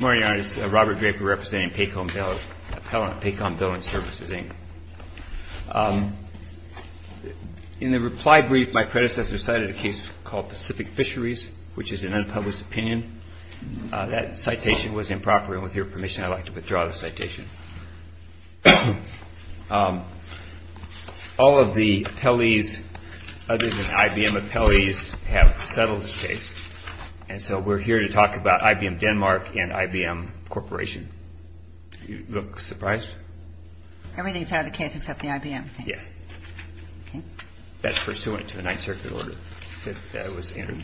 In the reply brief, my predecessor cited a case called Pacific Fisheries, which is an unpublished opinion. That citation was improper, and with your permission, I'd like to withdraw the citation. All of the appellees, other than IBM appellees, have settled this case. And so we're here to talk about IBM Denmark and IBM Corporation. Do you look surprised? Everything's out of the case except the IBM case. Yes. Okay. That's pursuant to the Ninth Circuit order that was entered.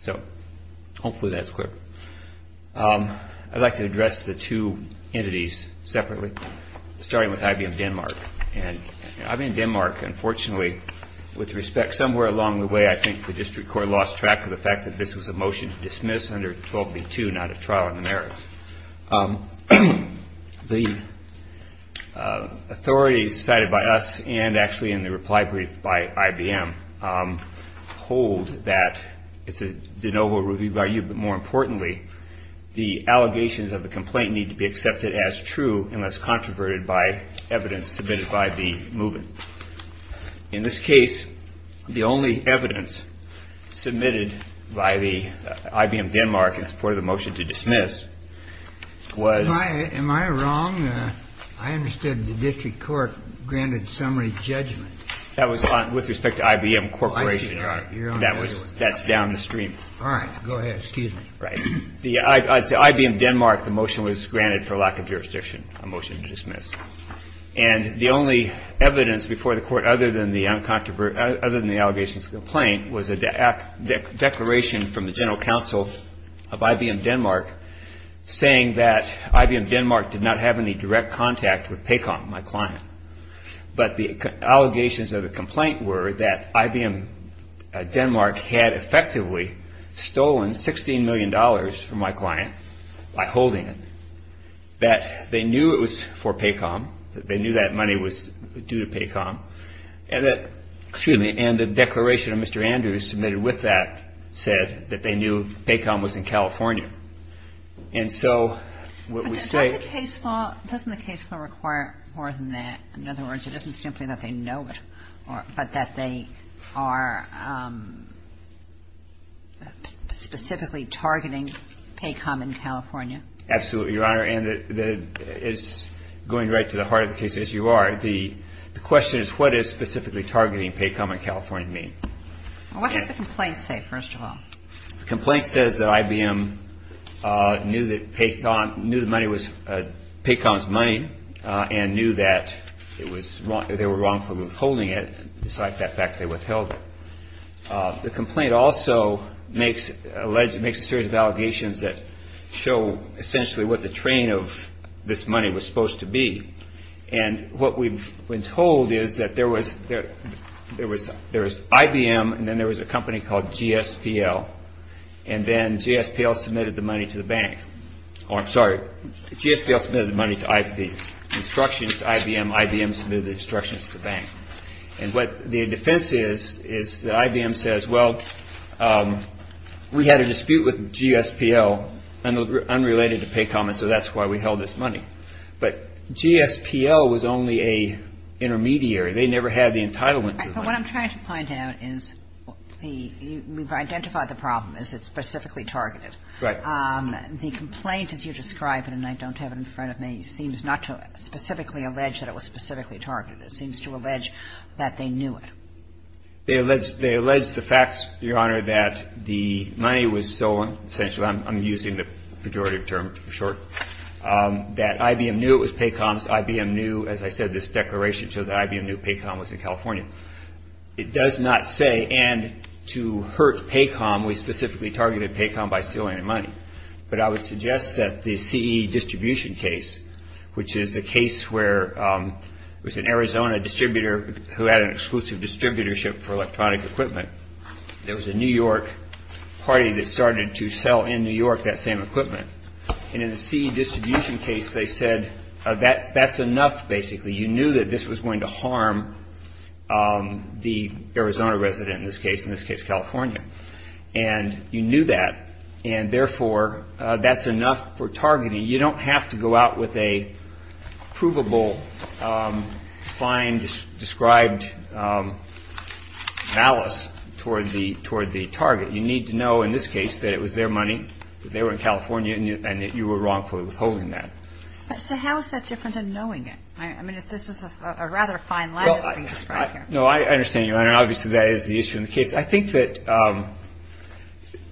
So hopefully that's clear. I'd like to address the two entities separately, starting with IBM Denmark. I'm in Denmark. Unfortunately, with respect, somewhere along the way, I think the district court lost track of the fact that this was a motion to dismiss under 12B2, not a trial in the merits. The authorities cited by us, and actually in the reply brief by IBM, hold that it's a de novo review by you, but more importantly, the allegations of the complaint need to be accepted as true unless controverted by evidence submitted by the movement. In this case, the only evidence submitted by the IBM Denmark in support of the motion to dismiss was. Am I wrong? I understood the district court granted summary judgment. That was with respect to IBM Corporation. That's down the stream. All right. Go ahead, Stephen. Right. As to IBM Denmark, the motion was granted for lack of jurisdiction, a motion to dismiss. And the only evidence before the court other than the allegations of complaint was a declaration from the general counsel of IBM Denmark saying that IBM Denmark did not have any direct contact with PACOM, my client, but the allegations of the complaint were that IBM Denmark had effectively stolen $16 million from my client by holding it, that they knew it was for PACOM, that they knew that money was due to PACOM, and the declaration of Mr. Andrews submitted with that said that they knew PACOM was in California. And so what we say — Doesn't the case law require more than that? In other words, it isn't simply that they know it, but that they are specifically targeting PACOM in California? Absolutely, Your Honor. And it's going right to the heart of the case, as you are. The question is, what does specifically targeting PACOM in California mean? What does the complaint say, first of all? The complaint says that IBM knew the money was PACOM's money and knew that they were wrongfully withholding it, besides the fact that they withheld it. The complaint also makes a series of allegations that show essentially what the train of this money was supposed to be. And what we've been told is that there was IBM and then there was a company called GSPL, and then GSPL submitted the money to the bank. Oh, I'm sorry. GSPL submitted the money to IBM, IBM submitted the instructions to the bank. And what the defense is, is that IBM says, well, we had a dispute with GSPL unrelated to PACOM, and so that's why we held this money. But GSPL was only a intermediary. They never had the entitlement to the money. But what I'm trying to find out is the we've identified the problem is it's specifically targeted. Right. The complaint, as you describe it, and I don't have it in front of me, seems not to specifically allege that it was specifically targeted. It seems to allege that they knew it. They allege the fact, Your Honor, that the money was stolen, essentially. I'm using the pejorative term for short. That IBM knew it was PACOM's. IBM knew, as I said, this declaration, so that IBM knew PACOM was in California. It does not say, and to hurt PACOM, we specifically targeted PACOM by stealing the money. But I would suggest that the CE distribution case, which is the case where it was an Arizona distributor who had an exclusive distributorship for electronic equipment. There was a New York party that started to sell in New York that same equipment. And in the CE distribution case, they said that's enough, basically. You knew that this was going to harm the Arizona resident in this case, in this case California. And you knew that. And therefore, that's enough for targeting. You don't have to go out with a provable, fine, described malice toward the target. You need to know, in this case, that it was their money, that they were in California, and that you were wrongfully withholding that. So how is that different than knowing it? I mean, this is a rather fine lattice being described here. No, I understand, Your Honor. Obviously, that is the issue in the case. I think that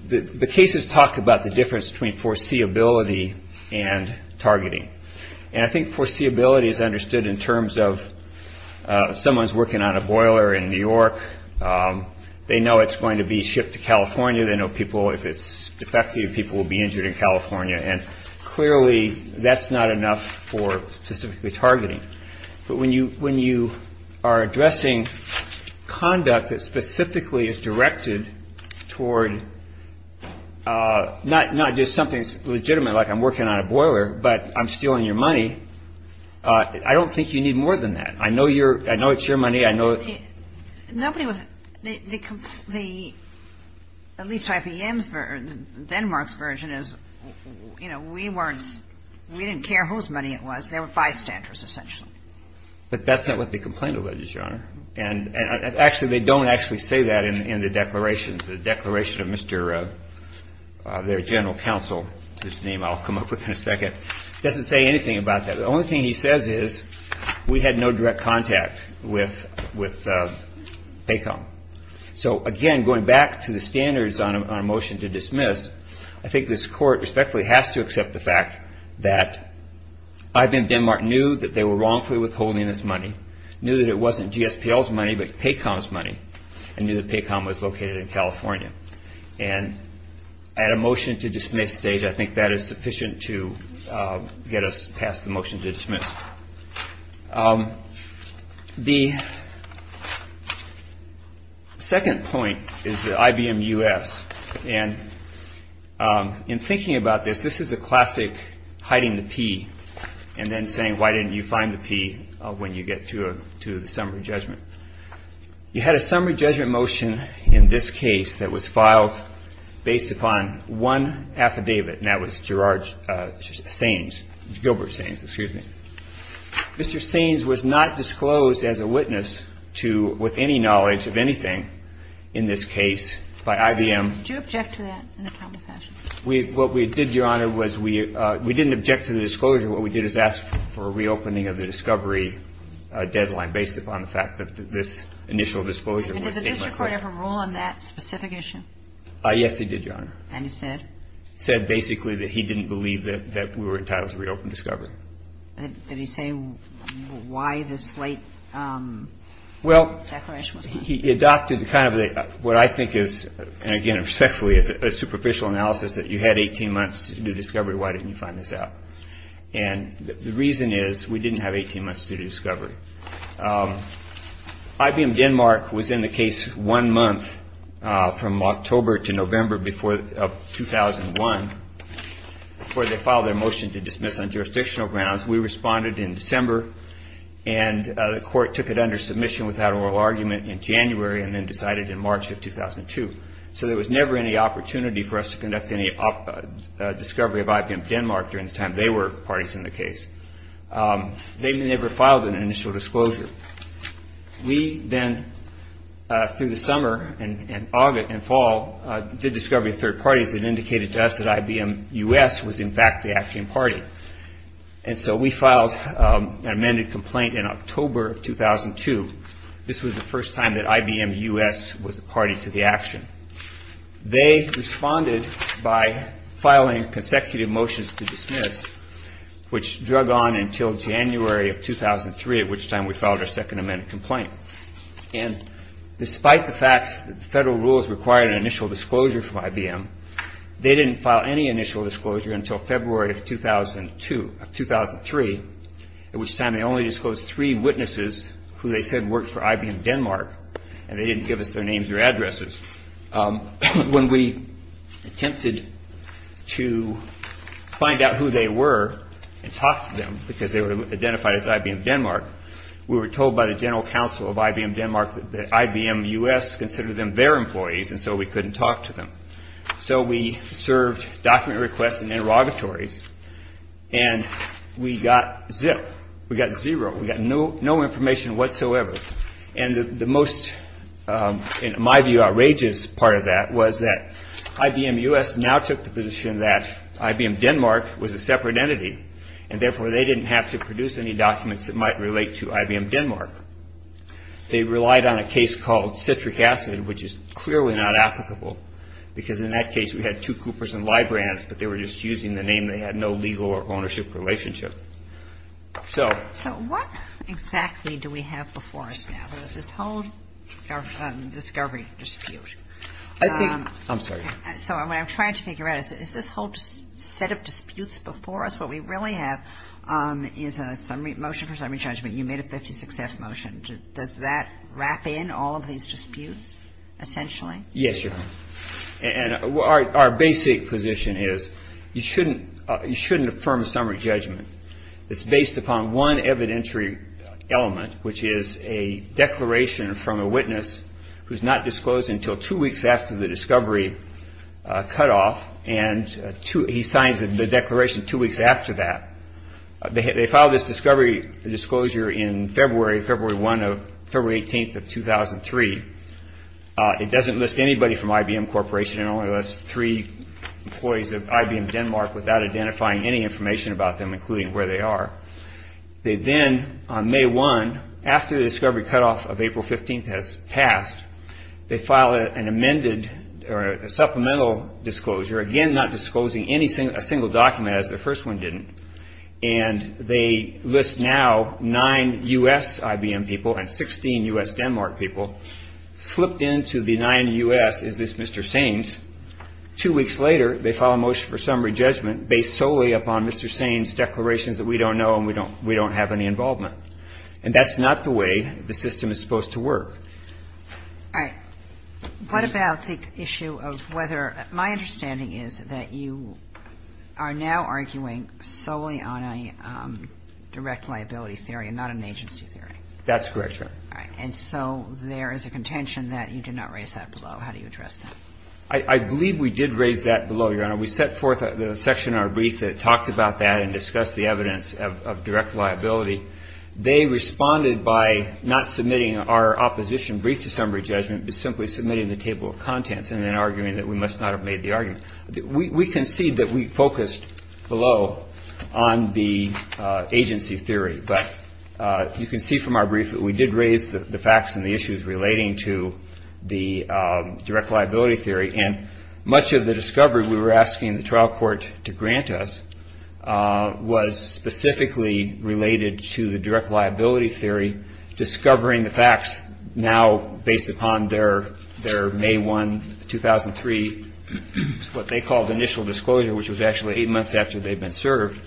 the cases talk about the difference between foreseeability and targeting. And I think foreseeability is understood in terms of someone's working on a boiler in New York. They know it's going to be shipped to California. They know people, if it's defective, people will be injured in California. And clearly, that's not enough for specifically targeting. But when you are addressing conduct that specifically is directed toward not just something legitimate, like I'm working on a boiler, but I'm stealing your money, I don't think you need more than that. I know it's your money. Nobody was, the, at least IPM's version, Denmark's version is, you know, we weren't, we didn't care whose money it was. They were bystanders, essentially. But that's not what they complained about, Your Honor. And actually, they don't actually say that in the declaration. The declaration of Mr. their general counsel, whose name I'll come up with in a second, doesn't say anything about that. The only thing he says is, we had no direct contact with PACOM. So, again, going back to the standards on a motion to dismiss, I think this court respectfully has to accept the fact that IPM Denmark knew that they were wrongfully withholding this money, knew that it wasn't GSPL's money, but PACOM's money, and knew that PACOM was located in California. And at a motion to dismiss stage, I think that is sufficient to get us past the motion to dismiss. The second point is the IBM US. And in thinking about this, this is a classic hiding the P and then saying, why didn't you find the P when you get to the summary judgment? You had a summary judgment motion in this case that was filed based upon one affidavit, and that was Gerard Sainz, Gilbert Sainz, excuse me. Mr. Sainz was not disclosed as a witness to, with any knowledge of anything in this case by IBM. Did you object to that? What we did, Your Honor, was we didn't object to the disclosure. What we did is ask for a reopening of the discovery deadline based upon the fact that this initial disclosure was basically. Did the district court ever rule on that specific issue? Yes, it did, Your Honor. And it said? It said basically that he didn't believe that we were entitled to reopen discovery. Did he say why this late declaration was made? Well, he adopted kind of what I think is, and again respectfully, a superficial analysis that you had 18 months to do discovery. Why didn't you find this out? And the reason is we didn't have 18 months to do discovery. IBM Denmark was in the case one month from October to November of 2001, before they filed their motion to dismiss on jurisdictional grounds. We responded in December, and the court took it under submission without oral argument in January and then decided in March of 2002. So there was never any opportunity for us to conduct any discovery of IBM Denmark during the time they were parties in the case. They never filed an initial disclosure. We then, through the summer and fall, did discovery of third parties that indicated to us that IBM U.S. was in fact the action party. And so we filed an amended complaint in October of 2002. This was the first time that IBM U.S. was a party to the action. They responded by filing consecutive motions to dismiss, which drug on until January of 2003, at which time we filed our second amended complaint. And despite the fact that the federal rules required an initial disclosure from IBM, they didn't file any initial disclosure until February of 2003, at which time they only disclosed three witnesses who they said worked for IBM Denmark, and they didn't give us their names or addresses. When we attempted to find out who they were and talk to them, because they were identified as IBM Denmark, we were told by the general counsel of IBM Denmark that IBM U.S. considered them their employees, and so we couldn't talk to them. So we served document requests and interrogatories, and we got zero. We got no information whatsoever, and the most, in my view, outrageous part of that was that IBM U.S. now took the position that IBM Denmark was a separate entity, and therefore they didn't have to produce any documents that might relate to IBM Denmark. They relied on a case called citric acid, which is clearly not applicable, because in that case we had two Coopers and Librans, but they were just using the name. They had no legal or ownership relationship. So what exactly do we have before us now? There's this whole discovery dispute. I'm sorry. So what I'm trying to figure out is this whole set of disputes before us, what we really have is a motion for summary judgment. You made a 56-F motion. Does that wrap in all of these disputes, essentially? Yes, Your Honor. And our basic position is you shouldn't affirm summary judgment. It's based upon one evidentiary element, which is a declaration from a witness who's not disclosed until two weeks after the discovery cut off, and he signs the declaration two weeks after that. They filed this discovery disclosure in February, February 1 of February 18th of 2003. It doesn't list anybody from IBM Corporation. It only lists three employees of IBM Denmark without identifying any information about them, including where they are. They then, on May 1, after the discovery cut off of April 15th has passed, they file an amended or a supplemental disclosure, again not disclosing a single document as the first one didn't, And they list now nine U.S. IBM people and 16 U.S. Denmark people. Slipped into the nine U.S. is this Mr. Sainz. Two weeks later, they file a motion for summary judgment based solely upon Mr. Sainz's declarations that we don't know and we don't have any involvement. And that's not the way the system is supposed to work. All right. What about the issue of whether my understanding is that you are now arguing solely on a direct liability theory and not an agency theory? That's correct, Your Honor. All right. And so there is a contention that you did not raise that below. How do you address that? I believe we did raise that below, Your Honor. We set forth the section in our brief that talked about that and discussed the evidence of direct liability. They responded by not submitting our opposition brief to summary judgment, but simply submitting the table of contents and then arguing that we must not have made the argument. We concede that we focused below on the agency theory. But you can see from our brief that we did raise the facts and the issues relating to the direct liability theory. And much of the discovery we were asking the trial court to grant us was specifically related to the direct liability theory, discovering the facts now based upon their May 1, 2003, what they called initial disclosure, which was actually eight months after they'd been served.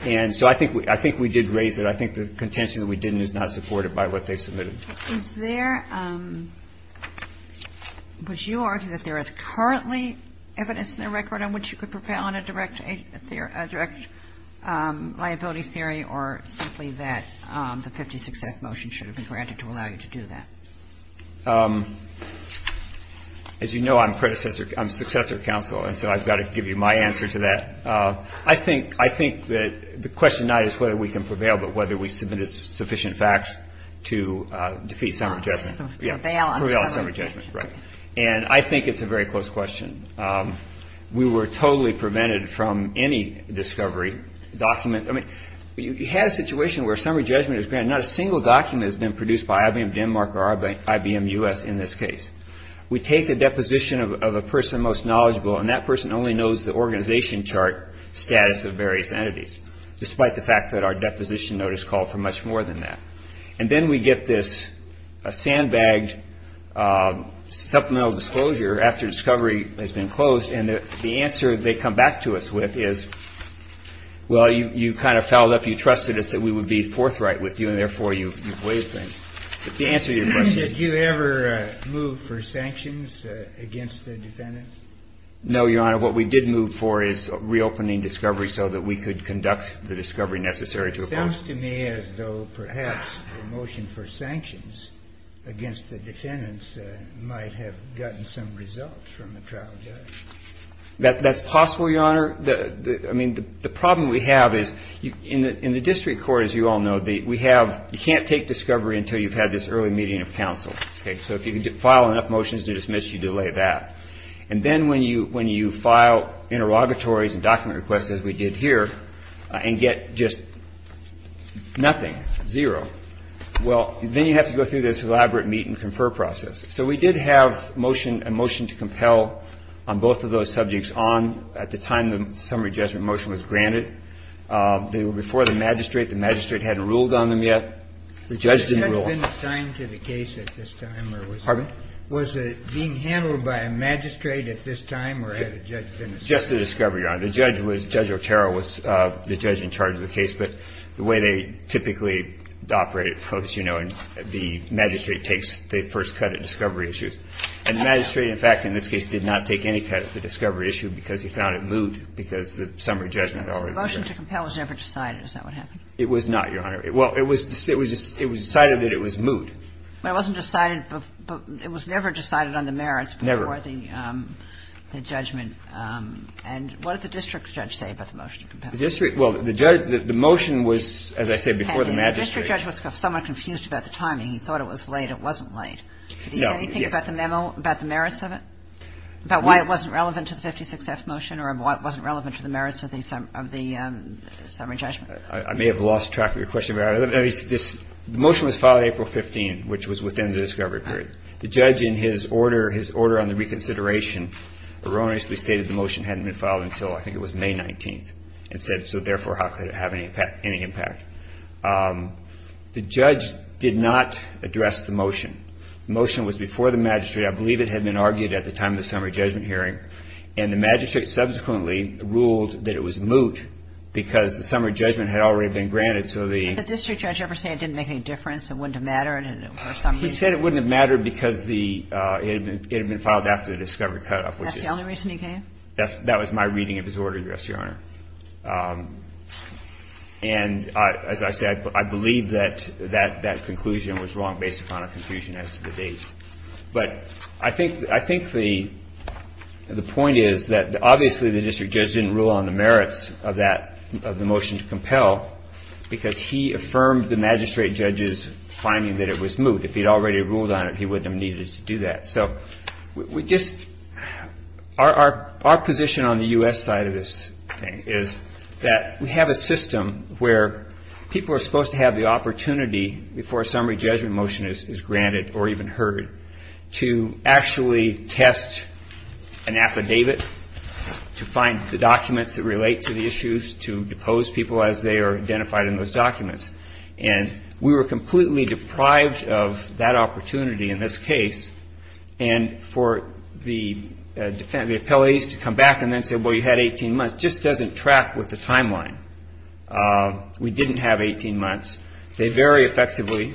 And so I think we did raise it. I think the contention that we didn't is not supported by what they submitted. Is there, would you argue that there is currently evidence in the record on which you could prevail on a direct liability theory or simply that the 56th motion should have been granted to allow you to do that? As you know, I'm predecessor, I'm successor counsel, and so I've got to give you my answer to that. I think that the question not is whether we can prevail but whether we submitted sufficient facts to defeat summary judgment. Prevail on summary judgment. Prevail on summary judgment, right. And I think it's a very close question. We were totally prevented from any discovery document. I mean, you have a situation where summary judgment is granted. Not a single document has been produced by IBM Denmark or IBM U.S. in this case. We take a deposition of a person most knowledgeable, and that person only knows the organization chart status of various entities, despite the fact that our deposition notice called for much more than that. And then we get this sandbagged supplemental disclosure after discovery has been closed, and the answer they come back to us with is, well, you kind of fouled up, you trusted us that we would be forthright with you, and therefore you waived things. Did you ever move for sanctions against the defendants? No, Your Honor. What we did move for is reopening discovery so that we could conduct the discovery necessary to oppose. It sounds to me as though perhaps the motion for sanctions against the defendants might have gotten some results from the trial judge. That's possible, Your Honor. I mean, the problem we have is in the district court, as you all know, we have you can't take discovery until you've had this early meeting of counsel. So if you file enough motions to dismiss, you delay that. And then when you file interrogatories and document requests, as we did here, and get just nothing, zero, well, then you have to go through this elaborate meet and confer process. So we did have a motion to compel on both of those subjects on at the time the summary judgment motion was granted. They were before the magistrate. The magistrate hadn't ruled on them yet. The judge didn't rule on them. Was the judge been assigned to the case at this time? Pardon? Was it being handled by a magistrate at this time, or had the judge been assigned? Just the discovery, Your Honor. The judge was, Judge Otero was the judge in charge of the case. But the way they typically operate, as you know, the magistrate takes the first cut at discovery issues. And the magistrate, in fact, in this case, did not take any cut at the discovery issue because he found it moot, because the summary judgment had already been granted. So the motion to compel was never decided. Is that what happened? It was not, Your Honor. Well, it was decided that it was moot. But it wasn't decided – it was never decided on the merits before the judgment. Never. And what did the district judge say about the motion to compel? The district – well, the motion was, as I said, before the magistrate. Had the district judge was somewhat confused about the timing. He thought it was late. It wasn't late. No. Did he say anything about the merits of it, about why it wasn't relevant to the 56F motion or why it wasn't relevant to the merits of the summary judgment? I may have lost track of your question, Your Honor. The motion was filed April 15, which was within the discovery period. The judge in his order, his order on the reconsideration erroneously stated the motion hadn't been filed until I think it was May 19th and said, so therefore, how could it have any impact? The judge did not address the motion. The motion was before the magistrate. I believe it had been argued at the time of the summary judgment hearing. And the magistrate subsequently ruled that it was moot because the summary judgment had already been granted, so the – Did the district judge ever say it didn't make any difference, it wouldn't have mattered? He said it wouldn't have mattered because the – it had been filed after the discovery cutoff, which is – That's the only reason he gave? That was my reading of his order, Your Honor. And as I said, I believe that that conclusion was wrong based upon a conclusion as to the date. But I think the point is that obviously the district judge didn't rule on the merits of that – of the motion to compel because he affirmed the magistrate judge's finding that it was moot. If he'd already ruled on it, he wouldn't have needed to do that. So we just – our position on the U.S. side of this thing is that we have a system where people are supposed to have the opportunity before a summary judgment motion is granted or even heard to actually test an affidavit to find the documents that relate to the issues, to depose people as they are identified in those documents. And we were completely deprived of that opportunity in this case. And for the defendant – the appellees to come back and then say, well, you had 18 months, just doesn't track with the timeline. We didn't have 18 months. They very effectively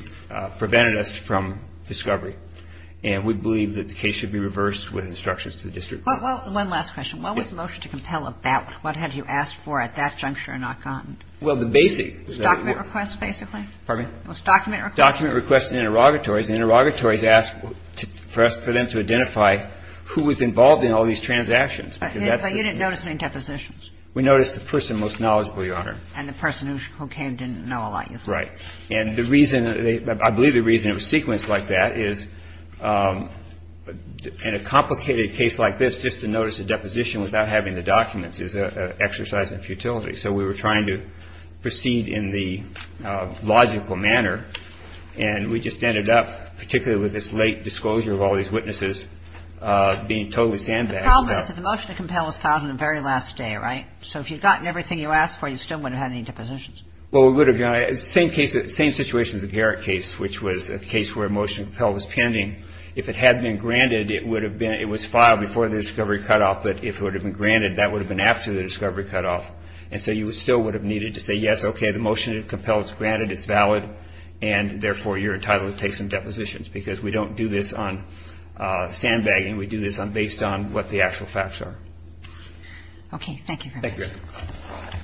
prevented us from discovery. And we believe that the case should be reversed with instructions to the district court. Well, one last question. What was the motion to compel about? What had you asked for at that juncture and not gotten? Well, the basic – Document requests, basically? Pardon me? It was document requests. Document requests and interrogatories. And interrogatories asked for us for them to identify who was involved in all these transactions. But you didn't notice any depositions? We noticed the person most knowledgeable, Your Honor. And the person who came didn't know a lot, you thought. Right. And the reason – I believe the reason it was sequenced like that is in a complicated case like this, just to notice a deposition without having the documents is an exercise in futility. So we were trying to proceed in the logical manner. And we just ended up, particularly with this late disclosure of all these witnesses, being totally sandbagged. The problem is that the motion to compel was filed on the very last day, right? So if you'd gotten everything you asked for, you still wouldn't have had any depositions? Well, we would have, Your Honor. Same case – same situation as the Garrett case, which was a case where a motion to compel was pending. If it had been granted, it would have been – it was filed before the discovery cutoff. But if it would have been granted, that would have been after the discovery cutoff. And so you still would have needed to say, yes, okay, the motion to compel is granted, it's valid. And, therefore, you're entitled to take some depositions because we don't do this on sandbagging. We do this based on what the actual facts are. Thank you, Your Honor. Thank you.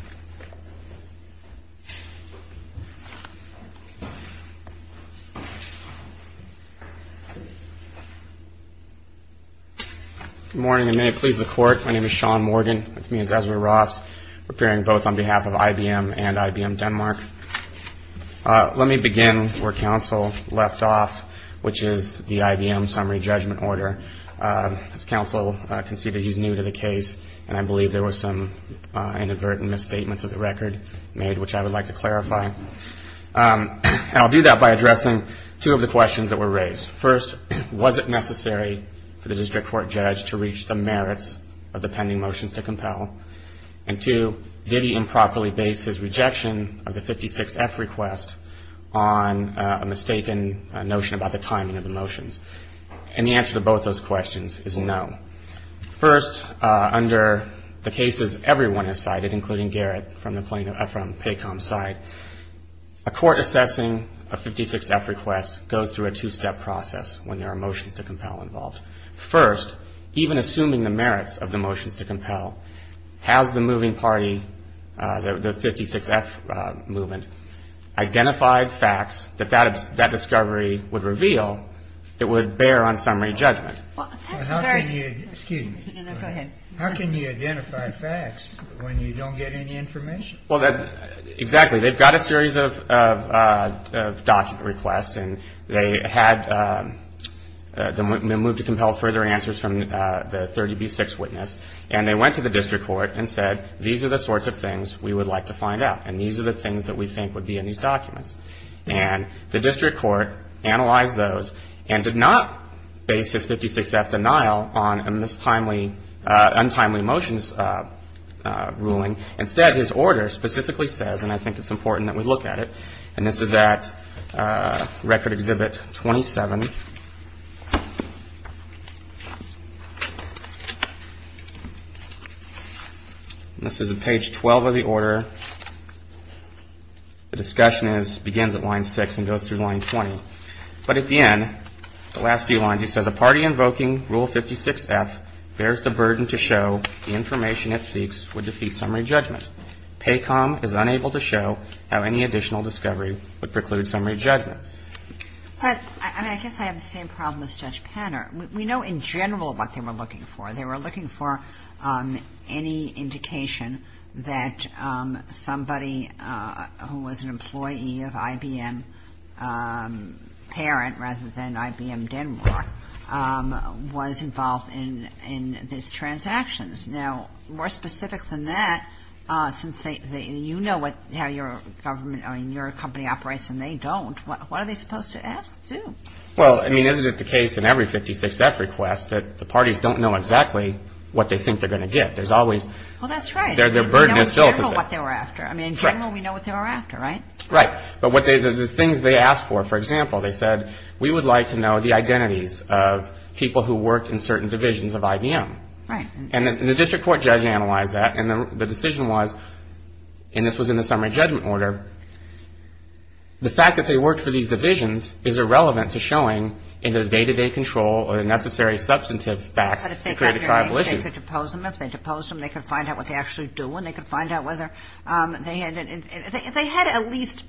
Good morning, and may it please the Court. My name is Sean Morgan, with me is Ezra Ross, appearing both on behalf of IBM and IBM Denmark. Let me begin where counsel left off, which is the IBM summary judgment order. As counsel conceded, he's new to the case, and I believe there were some inadvertent misstatements of the record made, which I would like to clarify. And I'll do that by addressing two of the questions that were raised. First, was it necessary for the district court judge to reach the merits of the pending motions to compel? And, two, did he improperly base his rejection of the 56-F request on a mistaken notion about the timing of the motions? And the answer to both those questions is no. First, under the cases everyone has cited, including Garrett from PACOM's side, a court assessing a 56-F request goes through a two-step process when there are motions to compel involved. First, even assuming the merits of the motions to compel, has the moving party, the 56-F movement, identified facts that that discovery would reveal that would bear on summary judgment? How can you identify facts when you don't get any information? Well, exactly. They've got a series of document requests, and they had the move to compel further answers from the 30B6 witness. And they went to the district court and said, these are the sorts of things we would like to find out, and these are the things that we think would be in these documents. And the district court analyzed those and did not base his 56-F denial on a untimely motions ruling. Instead, his order specifically says, and I think it's important that we look at it, and this is at Record Exhibit 27. This is at page 12 of the order. The discussion begins at line 6 and goes through line 20. But at the end, the last few lines, he says, But, I mean, I guess I have the same problem as Judge Panner. We know in general what they were looking for. They were looking for any indication that somebody who was an employee of IBM Parent rather than IBM Denmark was involved in these transactions. Now, more specific than that, since you know how your company operates and they don't, what are they supposed to ask to? Well, I mean, isn't it the case in every 56-F request that the parties don't know exactly what they think they're going to get? There's always – Well, that's right. Their burden is still – We know in general what they were after. I mean, in general, we know what they were after, right? Right. But the things they asked for, for example, they said, We would like to know the identities of people who worked in certain divisions of IBM. Right. And the district court judge analyzed that. And the decision was, and this was in the summary judgment order, the fact that they worked for these divisions is irrelevant to showing in the day-to-day control or the necessary substantive facts to create a triable issue. But if they got their names, they could depose them. If they deposed them, they could find out what they actually do. And they could find out whether – they had at least,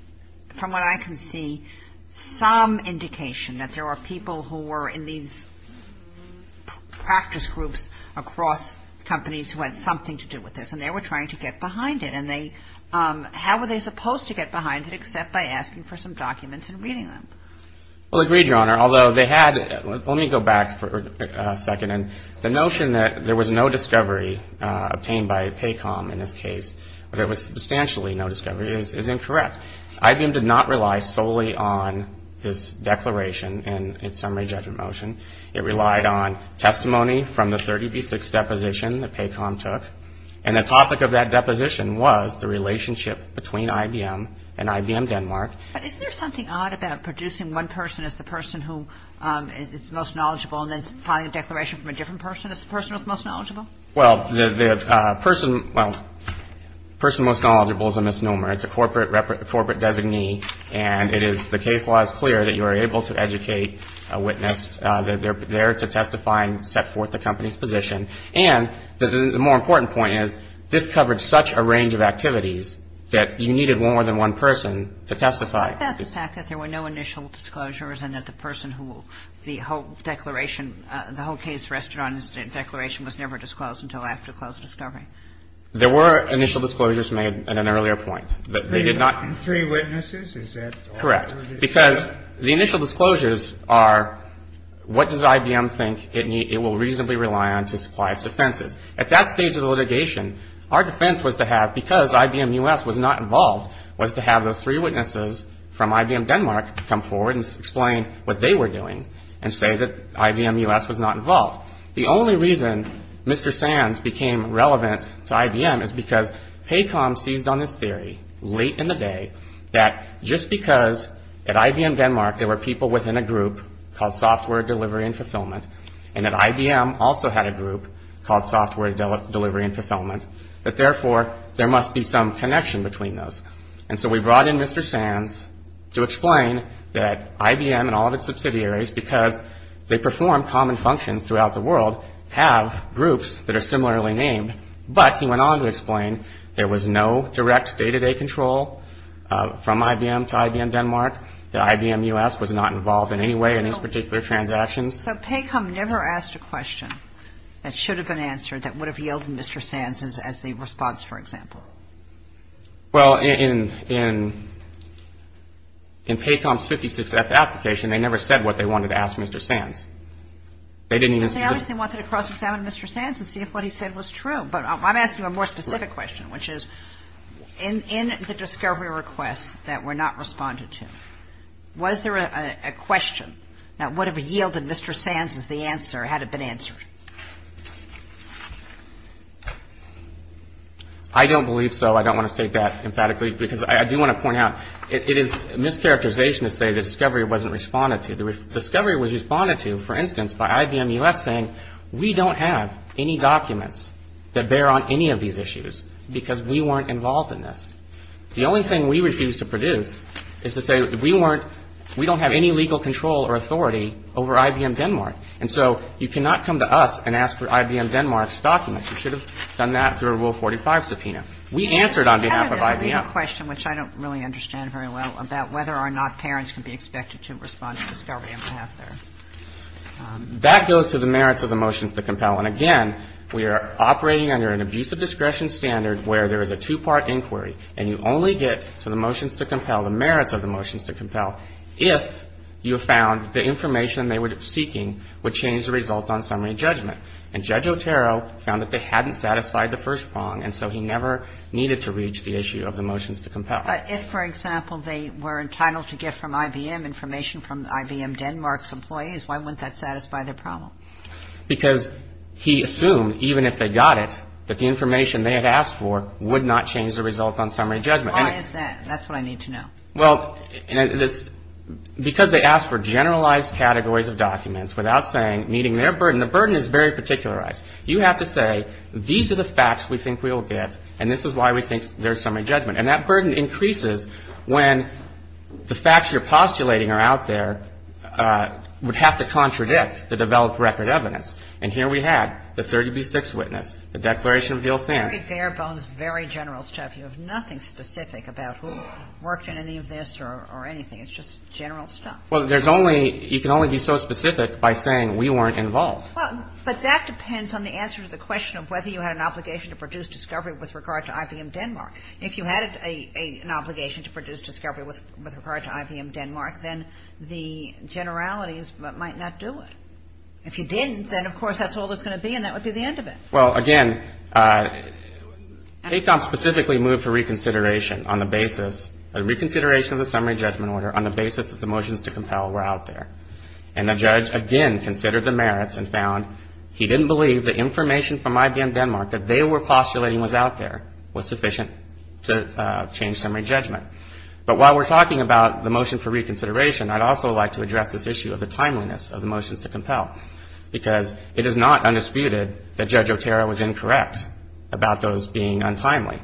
from what I can see, some indication that there were people who were in these practice groups across companies who had something to do with this. And they were trying to get behind it. And they – how were they supposed to get behind it except by asking for some documents and reading them? Well, agreed, Your Honor. Although they had – let me go back for a second. And the notion that there was no discovery obtained by PACOM in this case, that there was substantially no discovery, is incorrect. IBM did not rely solely on this declaration in its summary judgment motion. It relied on testimony from the 30B6 deposition that PACOM took. And the topic of that deposition was the relationship between IBM and IBM Denmark. But isn't there something odd about producing one person as the person who is most knowledgeable and then filing a declaration from a different person as the person who is most knowledgeable? Well, the person – well, person most knowledgeable is a misnomer. It's a corporate designee. And it is – the case law is clear that you are able to educate a witness. They're there to testify and set forth the company's position. And the more important point is this covered such a range of activities that you needed more than one person to testify. What about the fact that there were no initial disclosures and that the person who the whole declaration – the whole case rested on his declaration was never disclosed until after close discovery? There were initial disclosures made at an earlier point. They did not – Three witnesses? Correct. Because the initial disclosures are what does IBM think it will reasonably rely on to supply its defenses. At that stage of the litigation, our defense was to have – from IBM Denmark come forward and explain what they were doing and say that IBM US was not involved. The only reason Mr. Sands became relevant to IBM is because PACOM seized on this theory late in the day that just because at IBM Denmark there were people within a group called Software Delivery and Fulfillment and that IBM also had a group called Software Delivery and Fulfillment, that therefore there must be some connection between those. And so we brought in Mr. Sands to explain that IBM and all of its subsidiaries, because they perform common functions throughout the world, have groups that are similarly named. But he went on to explain there was no direct day-to-day control from IBM to IBM Denmark, that IBM US was not involved in any way in these particular transactions. So PACOM never asked a question that should have been answered that would have yielded Mr. Sands as the response, for example? Well, in PACOM's 56F application, they never said what they wanted to ask Mr. Sands. They didn't even – They obviously wanted to cross-examine Mr. Sands and see if what he said was true. But I'm asking a more specific question, which is in the discovery requests that were not responded to, was there a question that would have yielded Mr. Sands as the answer had it been answered? I don't believe so. I don't want to state that emphatically, because I do want to point out, it is a mischaracterization to say the discovery wasn't responded to. The discovery was responded to, for instance, by IBM US saying, we don't have any documents that bear on any of these issues because we weren't involved in this. The only thing we refused to produce is to say we weren't – we don't have any legal control or authority over IBM Denmark. And so you cannot come to us and ask for IBM Denmark's documents. You should have done that through a Rule 45 subpoena. We answered on behalf of IBM. I have a question, which I don't really understand very well, about whether or not parents can be expected to respond to discovery on behalf there. That goes to the merits of the motions to compel. And, again, we are operating under an abusive discretion standard where there is a two-part inquiry and you only get to the motions to compel, the merits of the motions to compel, if you found the information they were seeking would change the result on summary judgment. And Judge Otero found that they hadn't satisfied the first prong, and so he never needed to reach the issue of the motions to compel. But if, for example, they were entitled to get from IBM information from IBM Denmark's employees, why wouldn't that satisfy their problem? Because he assumed, even if they got it, that the information they had asked for would not change the result on summary judgment. Why is that? That's what I need to know. Well, because they asked for generalized categories of documents without saying, meeting their burden. The burden is very particularized. You have to say, these are the facts we think we'll get, and this is why we think there's summary judgment. And that burden increases when the facts you're postulating are out there, would have to contradict the developed record evidence. And here we had the 30b-6 witness, the Declaration of Beals Sands. Very bare bones, very general stuff. You have nothing specific about who worked in any of this or anything. It's just general stuff. Well, there's only – you can only be so specific by saying, we weren't involved. But that depends on the answer to the question of whether you had an obligation to produce discovery with regard to IBM Denmark. If you had an obligation to produce discovery with regard to IBM Denmark, then the generalities might not do it. If you didn't, then, of course, that's all there's going to be, and that would be the end of it. Well, again, ACOM specifically moved for reconsideration on the basis – a reconsideration of the summary judgment order on the basis that the motions to compel were out there. And the judge, again, considered the merits and found he didn't believe the information from IBM Denmark that they were postulating was out there was sufficient to change summary judgment. But while we're talking about the motion for reconsideration, I'd also like to address this issue of the timeliness of the motions to compel, because it is not undisputed that Judge Otero was incorrect about those being untimely.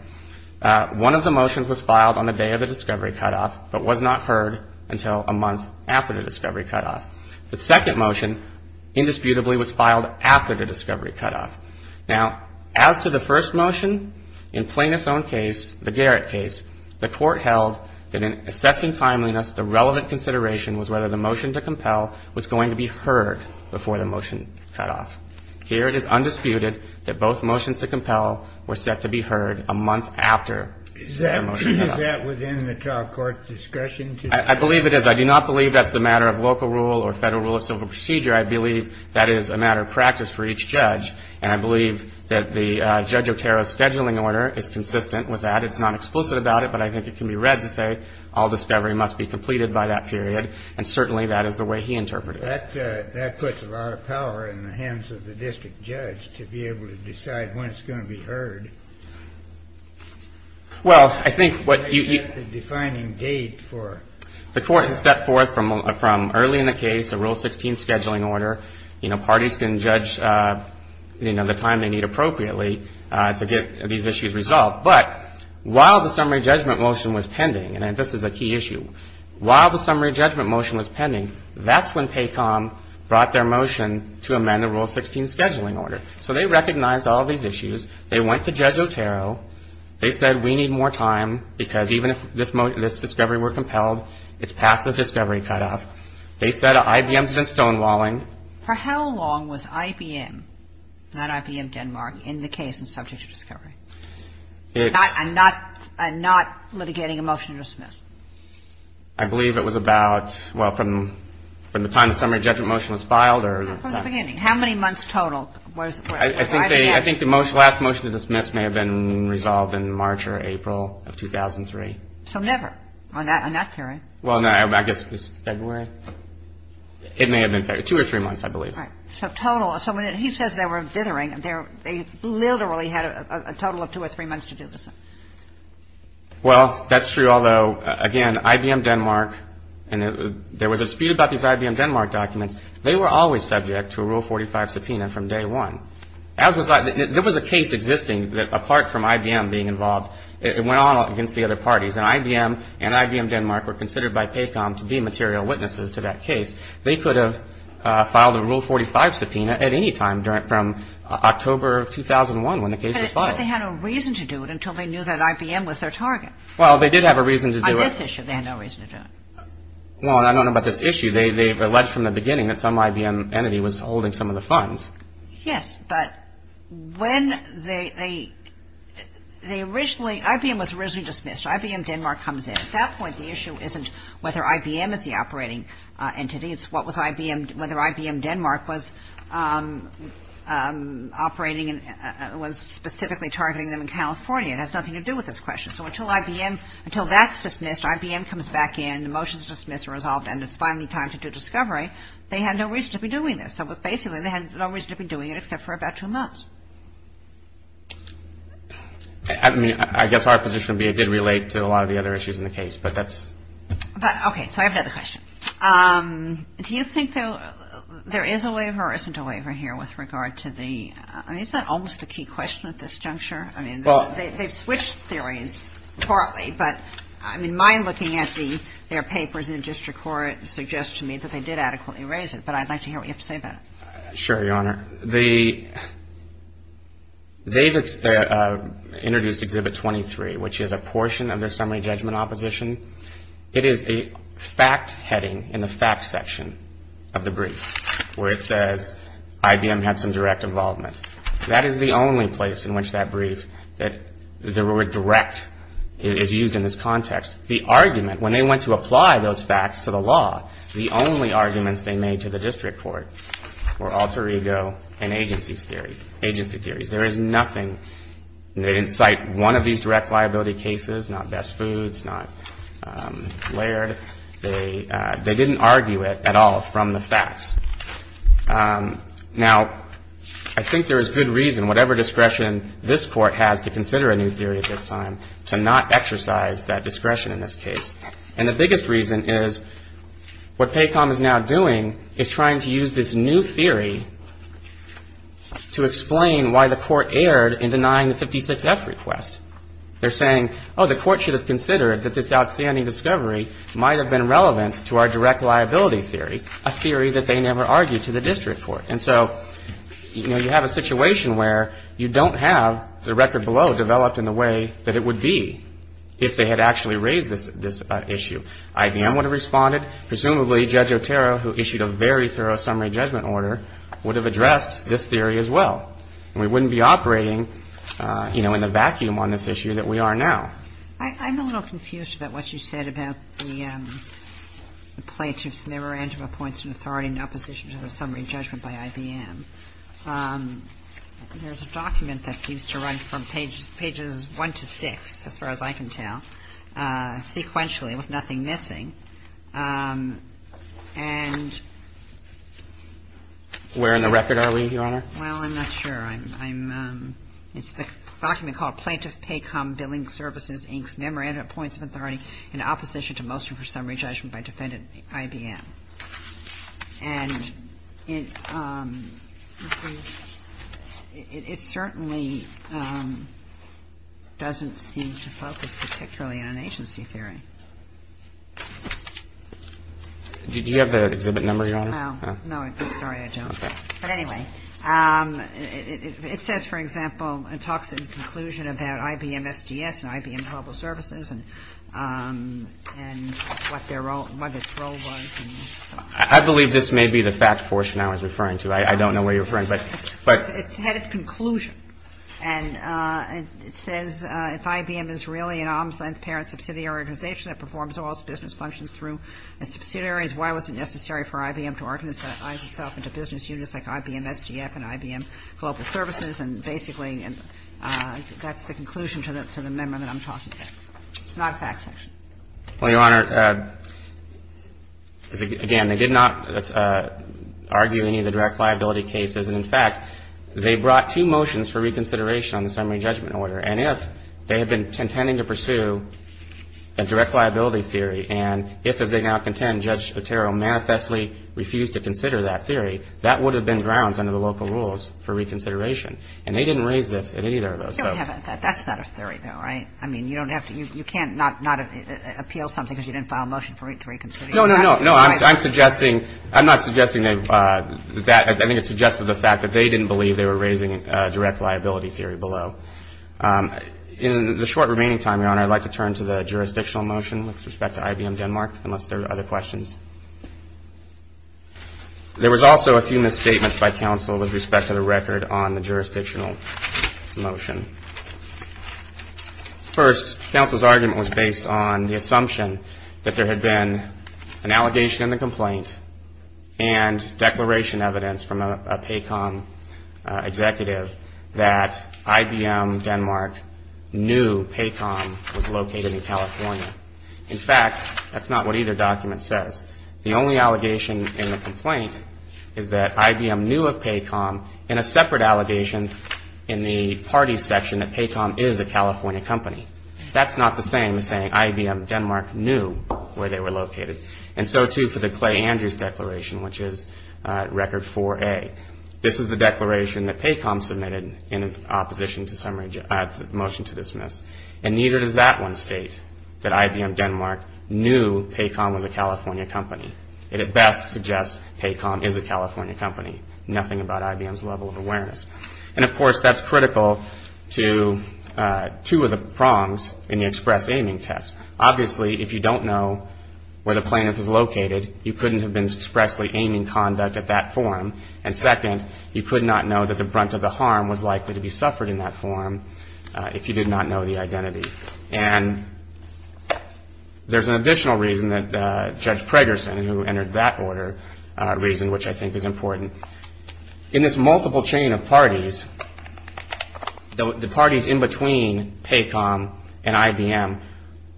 One of the motions was filed on the day of the discovery cutoff, but was not heard until a month after the discovery cutoff. The second motion, indisputably, was filed after the discovery cutoff. Now, as to the first motion, in Plaintiff's own case, the Garrett case, the court held that in assessing timeliness, the relevant consideration was whether the motion to compel was going to be heard before the motion cutoff. Here, it is undisputed that both motions to compel were set to be heard a month after the motion cutoff. Is that within the trial court discretion? I believe it is. I do not believe that's a matter of local rule or federal rule of civil procedure. I believe that is a matter of practice for each judge. And I believe that the Judge Otero's scheduling order is consistent with that. It's not explicit about it, but I think it can be read to say all discovery must be completed by that period. And certainly, that is the way he interpreted it. That puts a lot of power in the hands of the district judge to be able to decide when it's going to be heard. Well, I think what you- The defining date for- The court has set forth from early in the case a Rule 16 scheduling order. Parties can judge the time they need appropriately to get these issues resolved. But while the summary judgment motion was pending, and this is a key issue, while the summary judgment motion was pending, that's when PACOM brought their motion to amend the Rule 16 scheduling order. So they recognized all these issues. They went to Judge Otero. They said we need more time because even if this discovery were compelled, it's past the discovery cutoff. They said IBM's been stonewalling. For how long was IBM, not IBM Denmark, in the case and subject to discovery? I'm not litigating a motion to dismiss. I believe it was about, well, from the time the summary judgment motion was filed or- From the beginning. How many months total was IBM- I think the last motion to dismiss may have been resolved in March or April of 2003. So never? On that period? Well, no. I guess it was February. It may have been February. Two or three months, I believe. Right. So total. So when he says they were dithering, they literally had a total of two or three months to do this. Well, that's true, although, again, IBM Denmark, and there was a dispute about these IBM Denmark documents. They were always subject to a Rule 45 subpoena from day one. There was a case existing that apart from IBM being involved, it went on against the other parties. And so they had a reason to do it until they knew that IBM was their target. Well, they did have a reason to do it- On this issue, they had no reason to do it. Well, I don't know about this issue. They alleged from the beginning that some IBM entity was holding some of the funds. Yes. IBM was originally dismissed. IBM Denmark was dismissed. At that point, the issue isn't whether IBM is the operating entity. It's whether IBM Denmark was operating and was specifically targeting them in California. It has nothing to do with this question. So until that's dismissed, IBM comes back in, the motion's dismissed and resolved, and it's finally time to do discovery, they had no reason to be doing this. So basically, they had no reason to be doing it except for about two months. I mean, I guess our position would be it did relate to a lot of the other issues in the case, but that's- Okay. So I have another question. Do you think there is a waiver or isn't a waiver here with regard to the- I mean, is that almost the key question at this juncture? I mean, they've switched theories partly, but I mean, my looking at their papers in district court suggests to me that they did adequately raise it. But I'd like to hear what you have to say about it. Sure, Your Honor. They've introduced Exhibit 23, which is a portion of their summary judgment opposition. It is a fact heading in the facts section of the brief where it says IBM had some direct involvement. That is the only place in which that brief that the word direct is used in this context. The argument, when they went to apply those facts to the law, the only arguments they made to the district court were alter ego and agency theories. There is nothing. They didn't cite one of these direct liability cases, not Best Foods, not Laird. They didn't argue it at all from the facts. Now, I think there is good reason, whatever discretion this Court has to consider a new theory at this time, to not exercise that discretion in this case. And the biggest reason is what PACOM is now doing is trying to use this new theory to explain why the Court erred in denying the 56F request. They're saying, oh, the Court should have considered that this outstanding discovery might have been relevant to our direct liability theory, a theory that they never argued to the district court. And so, you know, you have a situation where you don't have the record below developed in the way that it would be if they had actually raised this issue. IBM would have responded. Presumably, Judge Otero, who issued a very thorough summary judgment order, would have addressed this theory as well. And we wouldn't be operating, you know, in the vacuum on this issue that we are now. I'm a little confused about what you said about the plaintiff's memorandum of points of authority in opposition to the summary judgment by IBM. There's a document that seems to run from pages one to six, as far as I can tell, sequentially, with nothing missing. And the other one is in the record. Where in the record are we, Your Honor? Well, I'm not sure. It's a document called Plaintiff PACOM Billing Services, Inc.'s Memorandum of Points of Authority in Opposition to Motion for Summary Judgment by Defendant IBM. And it certainly doesn't seem to focus particularly on agency theory. Do you have the exhibit number, Your Honor? No. No, I don't. Sorry, I don't. But anyway, it says, for example, it talks in conclusion about IBM SDS and IBM Global Services and what their role was. I believe this may be the fact portion I was referring to. I don't know what you're referring to. It's headed conclusion. And it says, if IBM is really an ombudsman's parent subsidiary organization that performs all its business functions through its subsidiaries, why was it necessary for IBM to organize itself into business units like IBM SDF and IBM Global Services? And basically, that's the conclusion to the memorandum I'm talking about. It's not a fact section. Well, Your Honor, again, they did not argue any of the direct liability cases. And in fact, they brought two motions for reconsideration on the summary judgment order. And if they had been intending to pursue a direct liability theory, and if, as they now contend, Judge Otero manifestly refused to consider that theory, that would have been grounds under the local rules for reconsideration. And they didn't raise this in either of those. That's not a theory, though, right? I mean, you don't have to – you can't not appeal something because you didn't file a motion for reconsideration. No, no, no. No, I'm suggesting – I'm not suggesting that – I think it's suggested the fact that they didn't believe they were raising a direct liability theory below. In the short remaining time, Your Honor, I'd like to turn to the jurisdictional motion with respect to IBM Denmark, unless there are other questions. There was also a few misstatements by counsel with respect to the record on the jurisdictional motion. First, counsel's argument was based on the assumption that there had been an allegation in the complaint and declaration evidence from a PACOM executive that IBM Denmark knew PACOM was located in California. In fact, that's not what either document says. The only allegation in the complaint is that IBM knew of PACOM in a separate allegation in the party section that PACOM is a California company. That's not the same as saying IBM Denmark knew where they were located. And so, too, for the Clay Andrews Declaration, which is Record 4A. This is the declaration that PACOM submitted in opposition to motion to dismiss. And neither does that one state that IBM Denmark knew PACOM was a California company. It at best suggests PACOM is a California company. Nothing about IBM's level of awareness. And, of course, that's critical to two of the prongs in the express aiming test. Obviously, if you don't know where the plaintiff is located, you couldn't have been expressly aiming conduct at that forum. And second, you could not know that the brunt of the harm was likely to be suffered in that forum if you did not know the identity. And there's an additional reason that Judge Preggerson, who entered that order, reason which I think is important. In this multiple chain of parties, the parties in between PACOM and IBM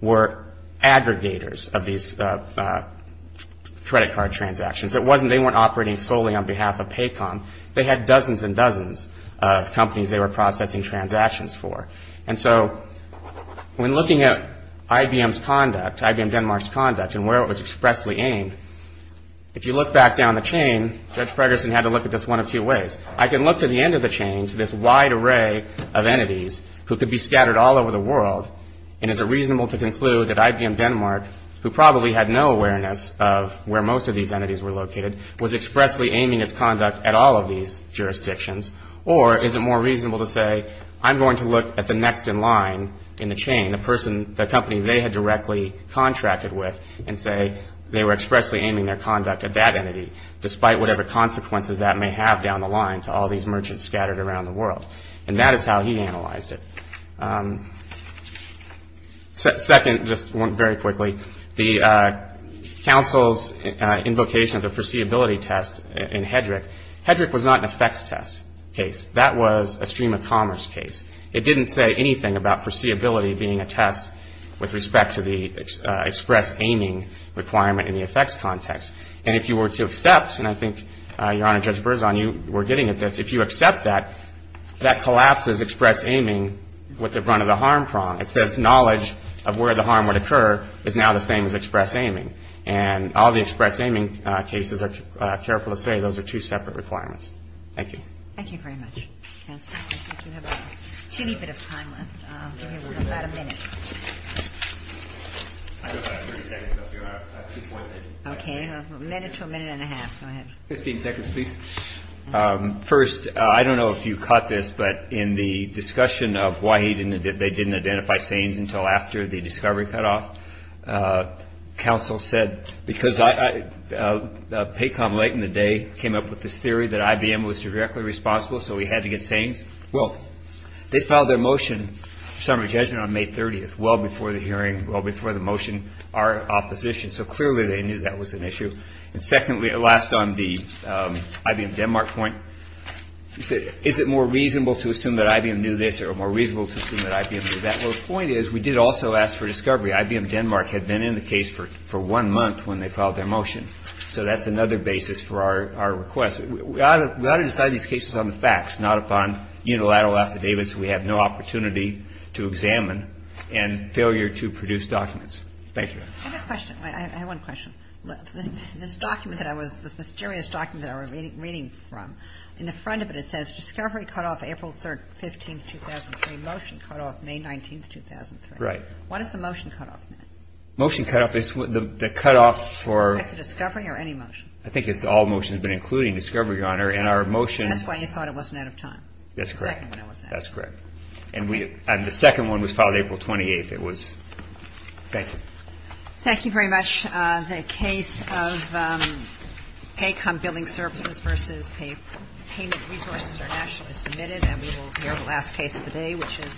were aggregators of these credit card transactions. It wasn't they weren't operating solely on behalf of PACOM. They had dozens and dozens of companies they were processing transactions for. And so when looking at IBM's conduct, IBM Denmark's conduct, and where it was expressly aimed, if you look back down the chain, Judge Preggerson had to look at this one of two ways. I can look to the end of the chain to this wide array of entities who could be scattered all over the world. And is it reasonable to conclude that IBM Denmark, who probably had no awareness of where most of these entities were located, was expressly aiming its conduct at all of these jurisdictions? Or is it more reasonable to say, I'm going to look at the next in line in the chain, the company they had directly contracted with, and say they were expressly aiming their conduct at that entity, despite whatever consequences that may have down the line to all these merchants scattered around the world? And that is how he analyzed it. Second, just very quickly, the counsel's invocation of the foreseeability test in Hedrick. Hedrick was not an effects test case. That was a stream of commerce case. It didn't say anything about foreseeability being a test with respect to the express aiming requirement in the effects context. And if you were to accept, and I think, Your Honor, Judge Berzon, you were getting at this, if you accept that, that collapses express aiming with the brunt of the harm prong. It says knowledge of where the harm would occur is now the same as express aiming. And all the express aiming cases are careful to say those are two separate requirements. Thank you. Thank you very much. Counsel, I think you have a teeny bit of time left. I'll give you about a minute. Okay, a minute to a minute and a half. Go ahead. Fifteen seconds, please. First, I don't know if you caught this, but in the discussion of why they didn't identify SANEs until after the discovery cutoff, counsel said, because PACOM late in the day came up with this theory that IBM was directly responsible, so we had to get SANEs. Well, they filed their motion for summary judgment on May 30th, well before the hearing, well before the motion, our opposition. So clearly they knew that was an issue. And secondly, last on the IBM Denmark point, is it more reasonable to assume that IBM knew this or more reasonable to assume that IBM knew that? Well, the point is we did also ask for discovery. IBM Denmark had been in the case for one month when they filed their motion. So that's another basis for our request. We ought to decide these cases on the facts, not upon unilateral affidavits we have no opportunity to examine and failure to produce documents. Thank you. I have a question. I have one question. This document that I was, this mysterious document that I was reading from, in the front of it it says discovery cutoff April 15th, 2003, motion cutoff May 19th, 2003. Right. What is the motion cutoff? Motion cutoff is the cutoff for the discovery or any motion? I think it's all motions, but including discovery, Your Honor. And our motion. That's why you thought it wasn't out of time. That's correct. That's correct. And the second one was filed April 28th. It was, thank you. Thank you very much. The case of pay cum billing services versus payment resources are nationally submitted. And we will hear the last case of the day, which is.